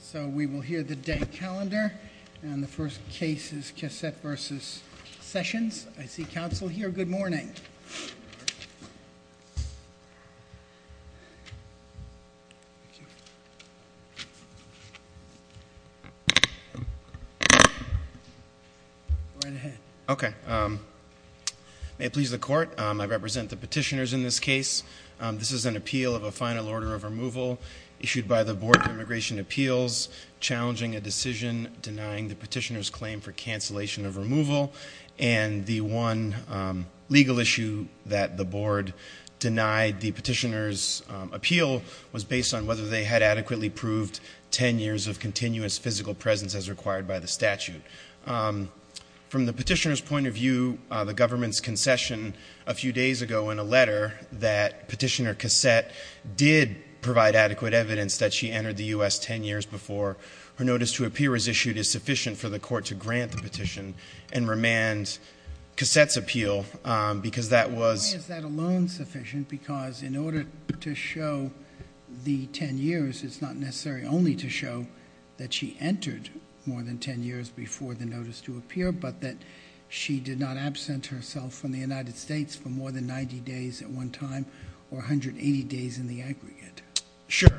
So we will hear the day calendar, and the first case is Cassette v. Sessions. I see counsel here. Good morning. May it please the court, I represent the petitioners in this case. This is an appeal of a final order of removal issued by the Board of Immigration Appeals challenging a decision denying the petitioner's claim for cancellation of removal. And the one legal issue that the board denied the petitioner's appeal was based on whether they had adequately proved 10 years of continuous physical presence as required by the statute. From the petitioner's point of view, the government's concession a few days ago in a letter that petitioner Cassette did provide adequate evidence that she entered the U.S. 10 years before. Her notice to appear as issued is sufficient for the court to grant the petition and remand Cassette's appeal because that was Why is that alone sufficient? Because in order to show the 10 years, it's not necessary only to show that she entered more than 10 years before the notice to appear, but that she did not absent herself from the United States for more than 90 days at one time or 180 days in the aggregate. Sure.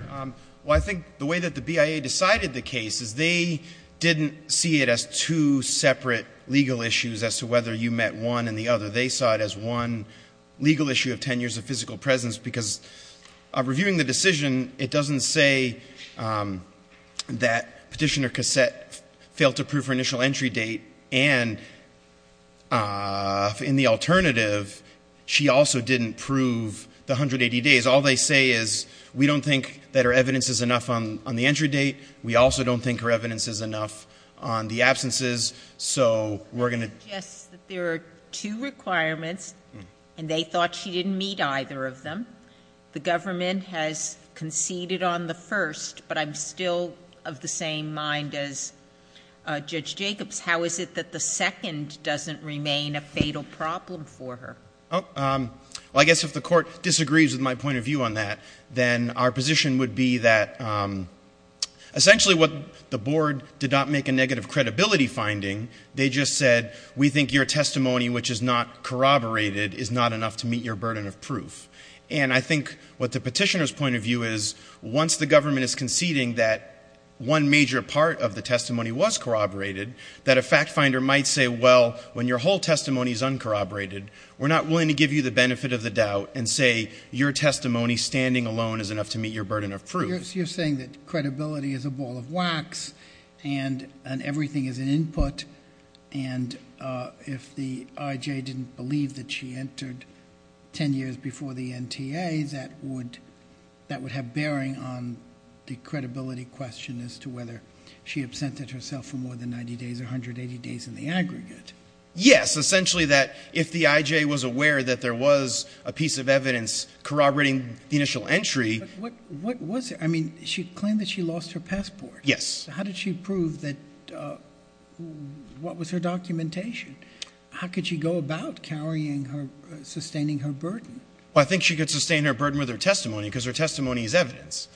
Well, I think the way that the BIA decided the case is they didn't see it as two separate legal issues as to whether you met one and the other. They saw it as one legal issue of 10 years of physical presence because reviewing the decision, it doesn't say that petitioner Cassette failed to prove her initial entry date. And in the alternative, she also didn't prove the 180 days. All they say is we don't think that her evidence is enough on the entry date. We also don't think her evidence is enough on the absences. There are two requirements and they thought she didn't meet either of them. The government has conceded on the first, but I'm still of the same mind as Judge Jacobs. How is it that the second doesn't remain a fatal problem for her? Well, I guess if the court disagrees with my point of view on that, then our position would be that essentially what the board did not make a negative credibility finding. They just said we think your testimony, which is not corroborated, is not enough to meet your burden of proof. And I think what the petitioner's point of view is, once the government is conceding that one major part of the testimony was corroborated, that a fact finder might say, well, when your whole testimony is uncorroborated, we're not willing to give you the benefit of the doubt and say your testimony standing alone is enough to meet your burden of proof. You're saying that credibility is a ball of wax and everything is an input and if the IJ didn't believe that she entered 10 years before the NTA, that would have bearing on the credibility question as to whether she absented herself for more than 90 days or 180 days in the aggregate. Yes, essentially that if the IJ was aware that there was a piece of evidence corroborating the initial entry. What was it? I mean, she claimed that she lost her passport. Yes. How did she prove that, what was her documentation? How could she go about carrying her, sustaining her burden? Well, I think she could sustain her burden with her testimony because her testimony is evidence.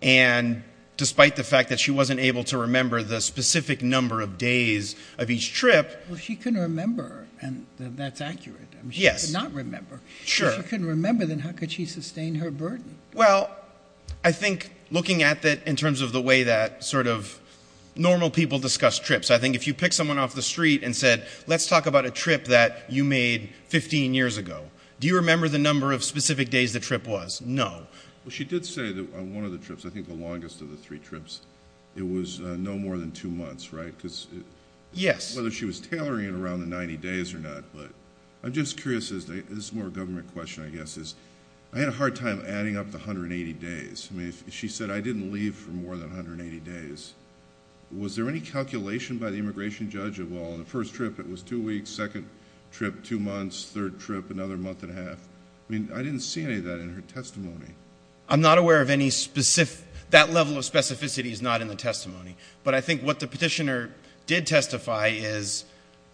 And despite the fact that she wasn't able to remember the specific number of days of each trip. Well, she couldn't remember and that's accurate. Yes. She could not remember. Sure. If she couldn't remember, then how could she sustain her burden? Well, I think looking at that in terms of the way that sort of normal people discuss trips. I think if you pick someone off the street and said, let's talk about a trip that you made 15 years ago. Do you remember the number of specific days the trip was? No. Well, she did say that on one of the trips, I think the longest of the three trips, it was no more than two months, right? Yes. I don't know whether she was tailoring it around the 90 days or not, but I'm just curious. This is more a government question, I guess, is I had a hard time adding up the 180 days. I mean, she said I didn't leave for more than 180 days. Was there any calculation by the immigration judge of, well, the first trip it was two weeks, second trip two months, third trip another month and a half? I mean, I didn't see any of that in her testimony. I'm not aware of any specific – that level of specificity is not in the testimony. But I think what the petitioner did testify is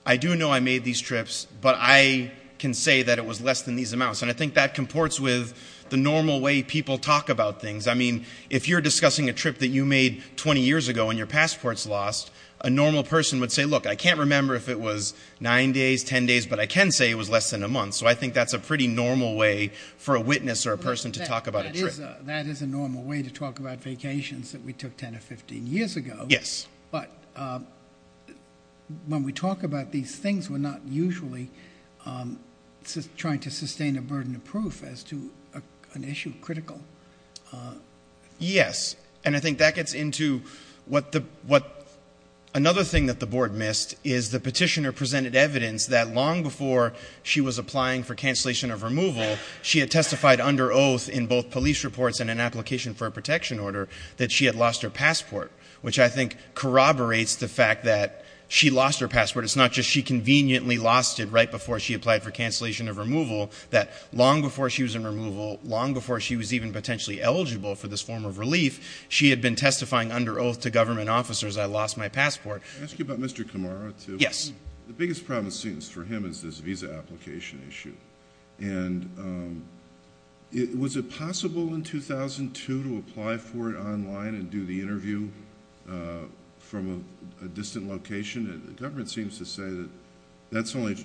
I do know I made these trips, but I can say that it was less than these amounts. And I think that comports with the normal way people talk about things. I mean, if you're discussing a trip that you made 20 years ago and your passport's lost, a normal person would say, look, I can't remember if it was 9 days, 10 days, but I can say it was less than a month. So I think that's a pretty normal way for a witness or a person to talk about a trip. That is a normal way to talk about vacations that we took 10 or 15 years ago. Yes. But when we talk about these things, we're not usually trying to sustain a burden of proof as to an issue critical. Yes. And I think that gets into what – another thing that the board missed is the petitioner presented evidence that long before she was applying for cancellation of removal, she had testified under oath in both police reports and an application for a protection order that she had lost her passport, which I think corroborates the fact that she lost her passport. It's not just she conveniently lost it right before she applied for cancellation of removal, that long before she was in removal, long before she was even potentially eligible for this form of relief, she had been testifying under oath to government officers, I lost my passport. Can I ask you about Mr. Kamara too? Yes. The biggest problem it seems for him is this visa application issue. And was it possible in 2002 to apply for it online and do the interview from a distant location? The government seems to say that that's only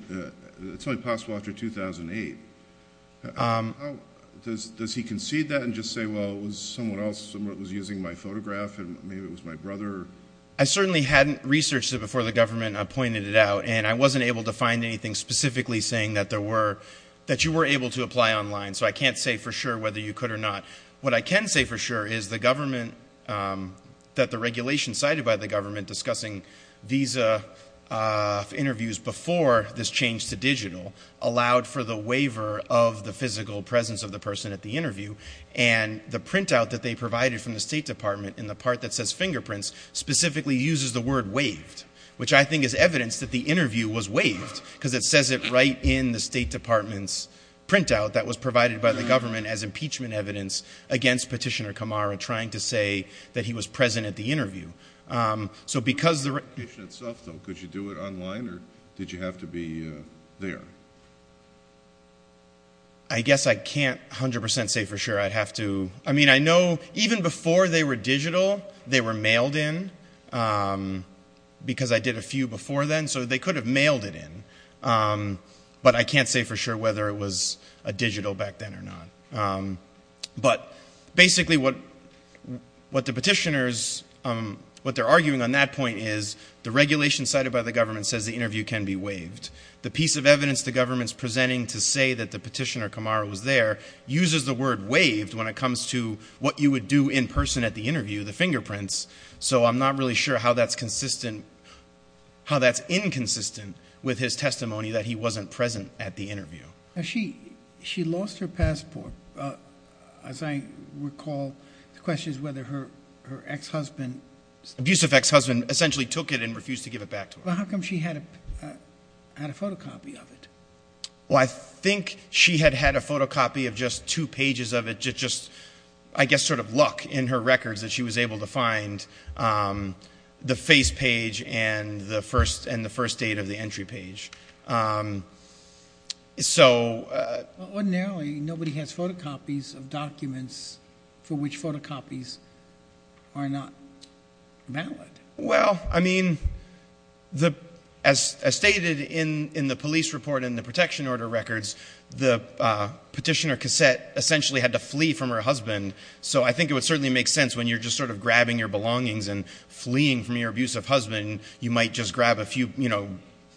possible after 2008. Does he concede that and just say, well, it was someone else, someone was using my photograph and maybe it was my brother? I certainly hadn't researched it before the government pointed it out, and I wasn't able to find anything specifically saying that you were able to apply online, so I can't say for sure whether you could or not. What I can say for sure is that the regulation cited by the government discussing visa interviews before this change to digital allowed for the waiver of the physical presence of the person at the interview, and the printout that they provided from the State Department in the part that says fingerprints specifically uses the word waived, which I think is evidence that the interview was waived, because it says it right in the State Department's printout that was provided by the government as impeachment evidence against Petitioner Kamara trying to say that he was present at the interview. Could you do it online or did you have to be there? I guess I can't 100% say for sure I'd have to. I mean, I know even before they were digital they were mailed in, because I did a few before then, so they could have mailed it in, but I can't say for sure whether it was a digital back then or not. But basically what the petitioners, what they're arguing on that point is the regulation cited by the government says the interview can be waived. The piece of evidence the government's presenting to say that the Petitioner Kamara was there uses the word waived when it comes to what you would do in person at the interview, the fingerprints. So I'm not really sure how that's consistent, how that's inconsistent with his testimony that he wasn't present at the interview. She lost her passport. As I recall, the question is whether her ex-husband. Abusive ex-husband essentially took it and refused to give it back to her. How come she had a photocopy of it? Well, I think she had had a photocopy of just two pages of it, just I guess sort of luck in her records that she was able to find the face page and the first date of the entry page. Ordinarily, nobody has photocopies of documents for which photocopies are not valid. Well, I mean, as stated in the police report and the protection order records, the petitioner cassette essentially had to flee from her husband. So I think it would certainly make sense when you're just sort of grabbing your belongings and fleeing from your abusive husband, you might just grab a few, you know,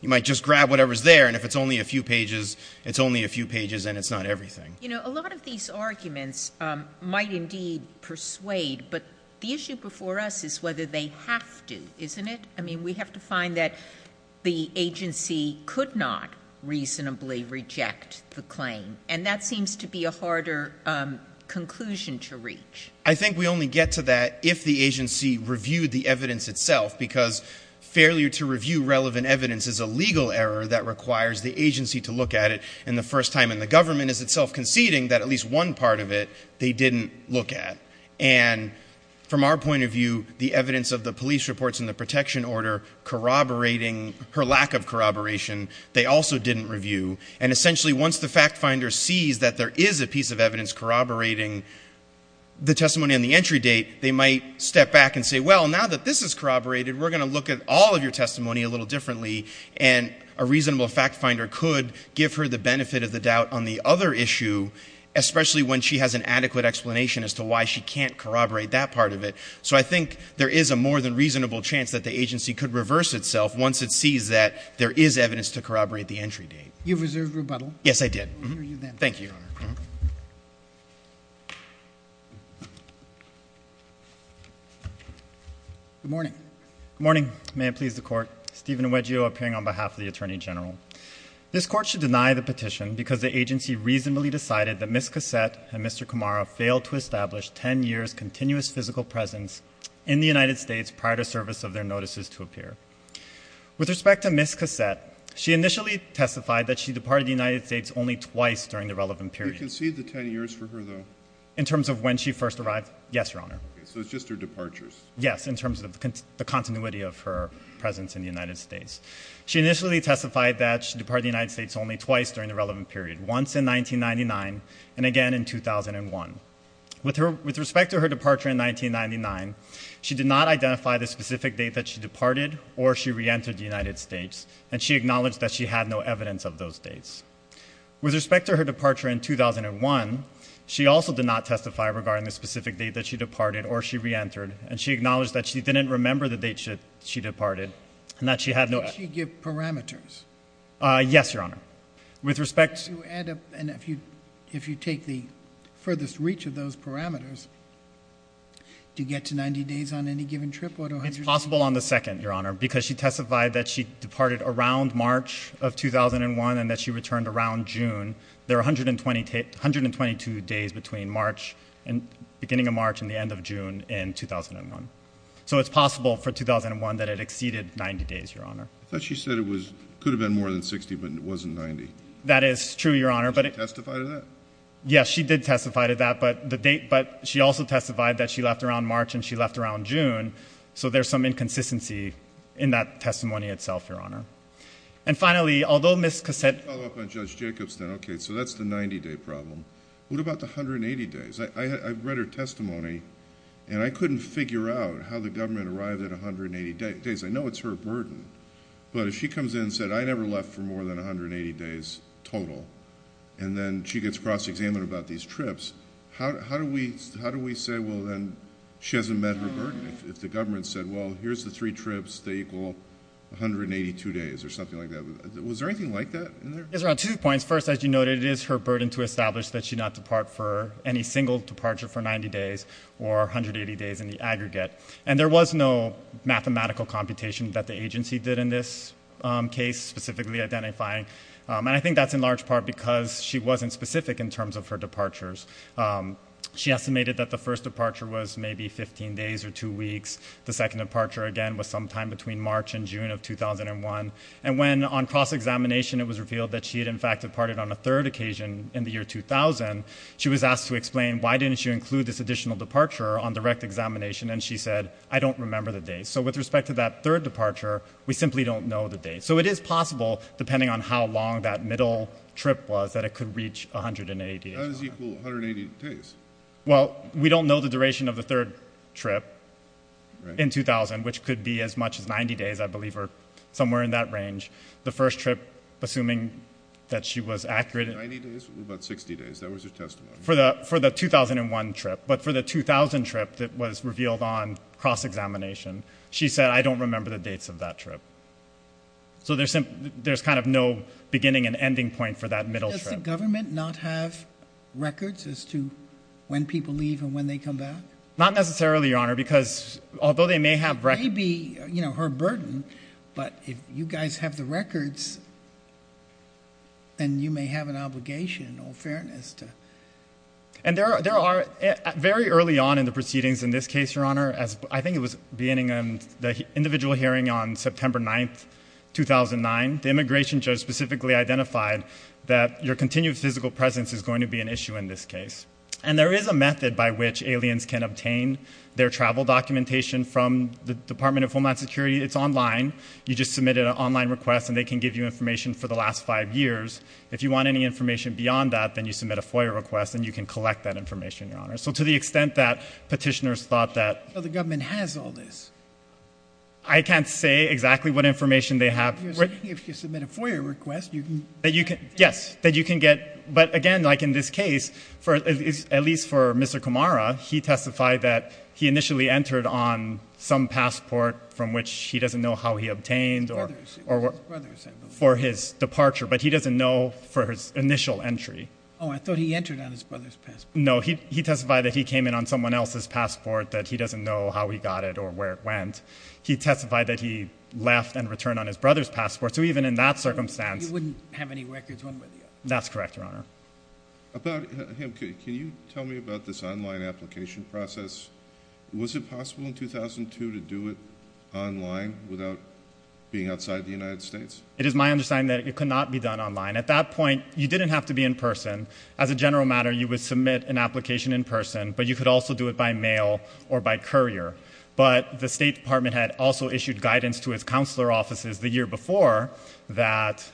you might just grab whatever's there. And if it's only a few pages, it's only a few pages and it's not everything. You know, a lot of these arguments might indeed persuade, but the issue before us is whether they have to, isn't it? I mean, we have to find that the agency could not reasonably reject the claim, and that seems to be a harder conclusion to reach. I think we only get to that if the agency reviewed the evidence itself, because failure to review relevant evidence is a legal error that requires the agency to look at it, and the first time in the government is itself conceding that at least one part of it they didn't look at. And from our point of view, the evidence of the police reports and the protection order corroborating her lack of corroboration, they also didn't review. And essentially, once the fact finder sees that there is a piece of evidence corroborating the testimony on the entry date, they might step back and say, well, now that this is corroborated, we're going to look at all of your testimony a little differently, and a reasonable fact finder could give her the benefit of the doubt on the other issue, especially when she has an adequate explanation as to why she can't corroborate that part of it. So I think there is a more than reasonable chance that the agency could reverse itself once it sees that there is evidence to corroborate the entry date. You've reserved rebuttal. Yes, I did. Thank you, Your Honor. Good morning. Good morning. May it please the Court. Stephen Uegio appearing on behalf of the Attorney General. This Court should deny the petition because the agency reasonably decided that Miss Cassette and Mr. Camara failed to establish 10 years' continuous physical presence in the United States prior to service of their notices to appear. With respect to Miss Cassette, she initially testified that she departed the United States only twice during the relevant period. Do you concede the 10 years for her, though? In terms of when she first arrived? Yes, Your Honor. So it's just her departures? Yes, in terms of the continuity of her presence in the United States. She initially testified that she departed the United States only twice during the relevant period, once in 1999 and again in 2001. With respect to her departure in 1999, she did not identify the specific date that she departed or she reentered the United States, and she acknowledged that she had no evidence of those dates. With respect to her departure in 2001, she also did not testify regarding the specific date that she departed or she reentered, and she acknowledged that she didn't remember the date that she departed and that she had no evidence. Did she give parameters? Yes, Your Honor. With respect to... And if you take the furthest reach of those parameters, do you get to 90 days on any given trip or to 100 days? It's possible on the second, Your Honor, because she testified that she departed around March of 2001 and that she returned around June. There are 122 days between beginning of March and the end of June in 2001. So it's possible for 2001 that it exceeded 90 days, Your Honor. I thought she said it could have been more than 60, but it wasn't 90. That is true, Your Honor. Did she testify to that? Yes, she did testify to that, but she also testified that she left around March and she left around June, so there's some inconsistency in that testimony itself, Your Honor. And finally, although Ms. Cassett... Let me follow up on Judge Jacobs then. Okay, so that's the 90-day problem. What about the 180 days? I've read her testimony, and I couldn't figure out how the government arrived at 180 days. I know it's her burden, but if she comes in and said, I never left for more than 180 days total, and then she gets cross-examined about these trips, how do we say, well, then, she hasn't met her burden? If the government said, well, here's the three trips, they equal 182 days or something like that. Was there anything like that in there? There are two points. First, as you noted, it is her burden to establish that she did not depart for any single departure for 90 days or 180 days in the aggregate, and there was no mathematical computation that the agency did in this case specifically identifying, and I think that's in large part because she wasn't specific in terms of her departures. She estimated that the first departure was maybe 15 days or two weeks. The second departure, again, was sometime between March and June of 2001, and when on cross-examination it was revealed that she had, in fact, departed on a third occasion in the year 2000, she was asked to explain why didn't she include this additional departure on direct examination, and she said, I don't remember the date. So with respect to that third departure, we simply don't know the date. So it is possible, depending on how long that middle trip was, that it could reach 180 days. That does equal 180 days. Well, we don't know the duration of the third trip in 2000, which could be as much as 90 days, I believe, or somewhere in that range. The first trip, assuming that she was accurate... 90 days? What about 60 days? That was her testimony. For the 2001 trip, but for the 2000 trip that was revealed on cross-examination, she said, I don't remember the dates of that trip. So there's kind of no beginning and ending point for that middle trip. Does the government not have records as to when people leave and when they come back? Not necessarily, Your Honor, because although they may have records... It may be her burden, but if you guys have the records, then you may have an obligation, in all fairness, to... And there are, very early on in the proceedings in this case, Your Honor, I think it was beginning on the individual hearing on September 9, 2009, the immigration judge specifically identified that your continued physical presence is going to be an issue in this case. And there is a method by which aliens can obtain their travel documentation from the Department of Homeland Security. It's online. You just submit an online request, and they can give you information for the last five years. If you want any information beyond that, then you submit a FOIA request, and you can collect that information, Your Honor. So to the extent that petitioners thought that... But the government has all this. I can't say exactly what information they have. You're saying if you submit a FOIA request, you can... Yes, that you can get... But, again, like in this case, at least for Mr. Kamara, he testified that he initially entered on some passport from which he doesn't know how he obtained... His brother's. It was his brother's, I believe. ...for his departure, but he doesn't know for his initial entry. Oh, I thought he entered on his brother's passport. No, he testified that he came in on someone else's passport, that he doesn't know how he got it or where it went. He testified that he left and returned on his brother's passport. So even in that circumstance... He wouldn't have any records one way or the other. That's correct, Your Honor. About him, can you tell me about this online application process? Was it possible in 2002 to do it online without being outside the United States? It is my understanding that it could not be done online. At that point, you didn't have to be in person. As a general matter, you would submit an application in person, but you could also do it by mail or by courier. But the State Department had also issued guidance to its counselor offices the year before that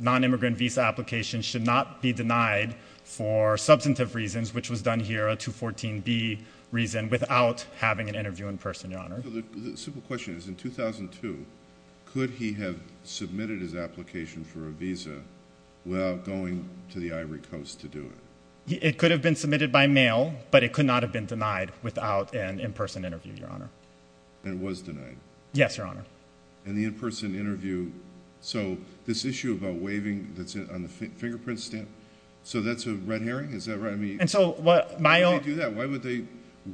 nonimmigrant visa applications should not be denied for substantive reasons, which was done here, a 214B reason, without having an interview in person, Your Honor. The simple question is, in 2002, could he have submitted his application for a visa without going to the Ivory Coast to do it? It could have been submitted by mail, but it could not have been denied without an in-person interview, Your Honor. And it was denied? Yes, Your Honor. And the in-person interview, so this issue about waiving that's on the fingerprint stamp, so that's a red herring? Is that right? And so my own... Why would they do that? Why would they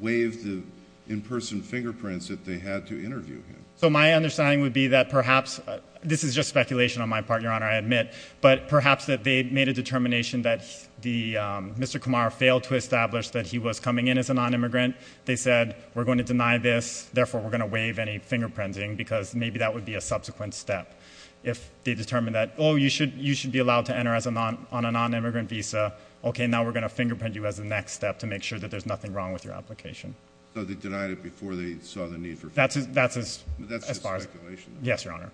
waive the in-person fingerprints if they had to interview him? So my understanding would be that perhaps, this is just speculation on my part, Your Honor, I admit, but perhaps that they made a determination that Mr. Kumar failed to establish that he was coming in as a nonimmigrant. They said, we're going to deny this, therefore we're going to waive any fingerprinting because maybe that would be a subsequent step if they determined that, oh, you should be allowed to enter on a nonimmigrant visa, okay, now we're going to fingerprint you as the next step to make sure that there's nothing wrong with your application. So they denied it before they saw the need for fingerprints? That's as far as... But that's just speculation. Yes, Your Honor.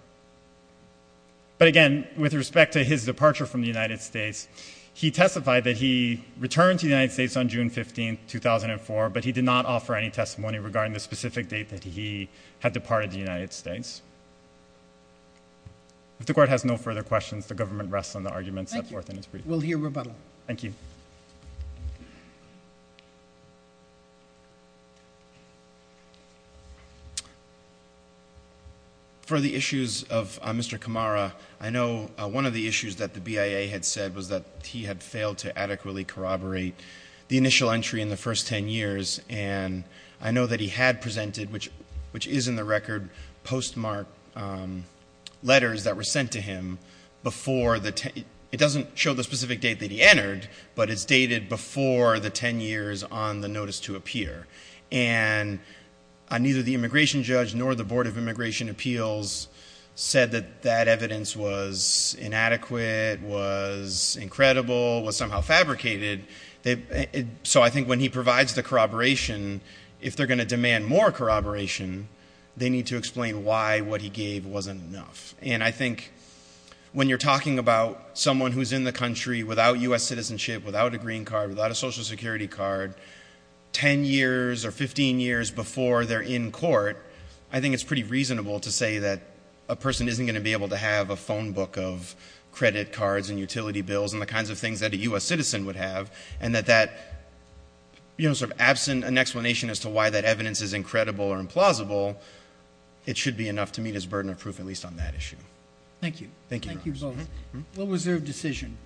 But again, with respect to his departure from the United States, he testified that he returned to the United States on June 15, 2004, but he did not offer any testimony regarding the specific date that he had departed the United States. If the Court has no further questions, the government rests on the arguments set forth in its brief. Thank you. We'll hear rebuttal. Thank you. For the issues of Mr. Kamara, I know one of the issues that the BIA had said was that he had failed to adequately corroborate the initial entry in the first 10 years. And I know that he had presented, which is in the record, postmarked letters that were sent to him before the... It doesn't show the specific date that he entered, but it's dated before the 10 years on the notice to appear. And neither the immigration judge nor the Board of Immigration Appeals said that that evidence was inadequate, was incredible, was somehow fabricated. So I think when he provides the corroboration, if they're going to demand more corroboration, they need to explain why what he gave wasn't enough. And I think when you're talking about someone who's in the country without US citizenship, without a green card, without a Social Security card, 10 years or 15 years before they're in court, I think it's pretty reasonable to say that a person isn't going to be able to have a phone book of credit cards and utility bills and the kinds of things that a US citizen would have, and that that, you know, sort of absent an explanation as to why that evidence is incredible or implausible, it should be enough to meet his burden of proof, at least on that issue. Thank you. Thank you. Thank you both. What was their decision?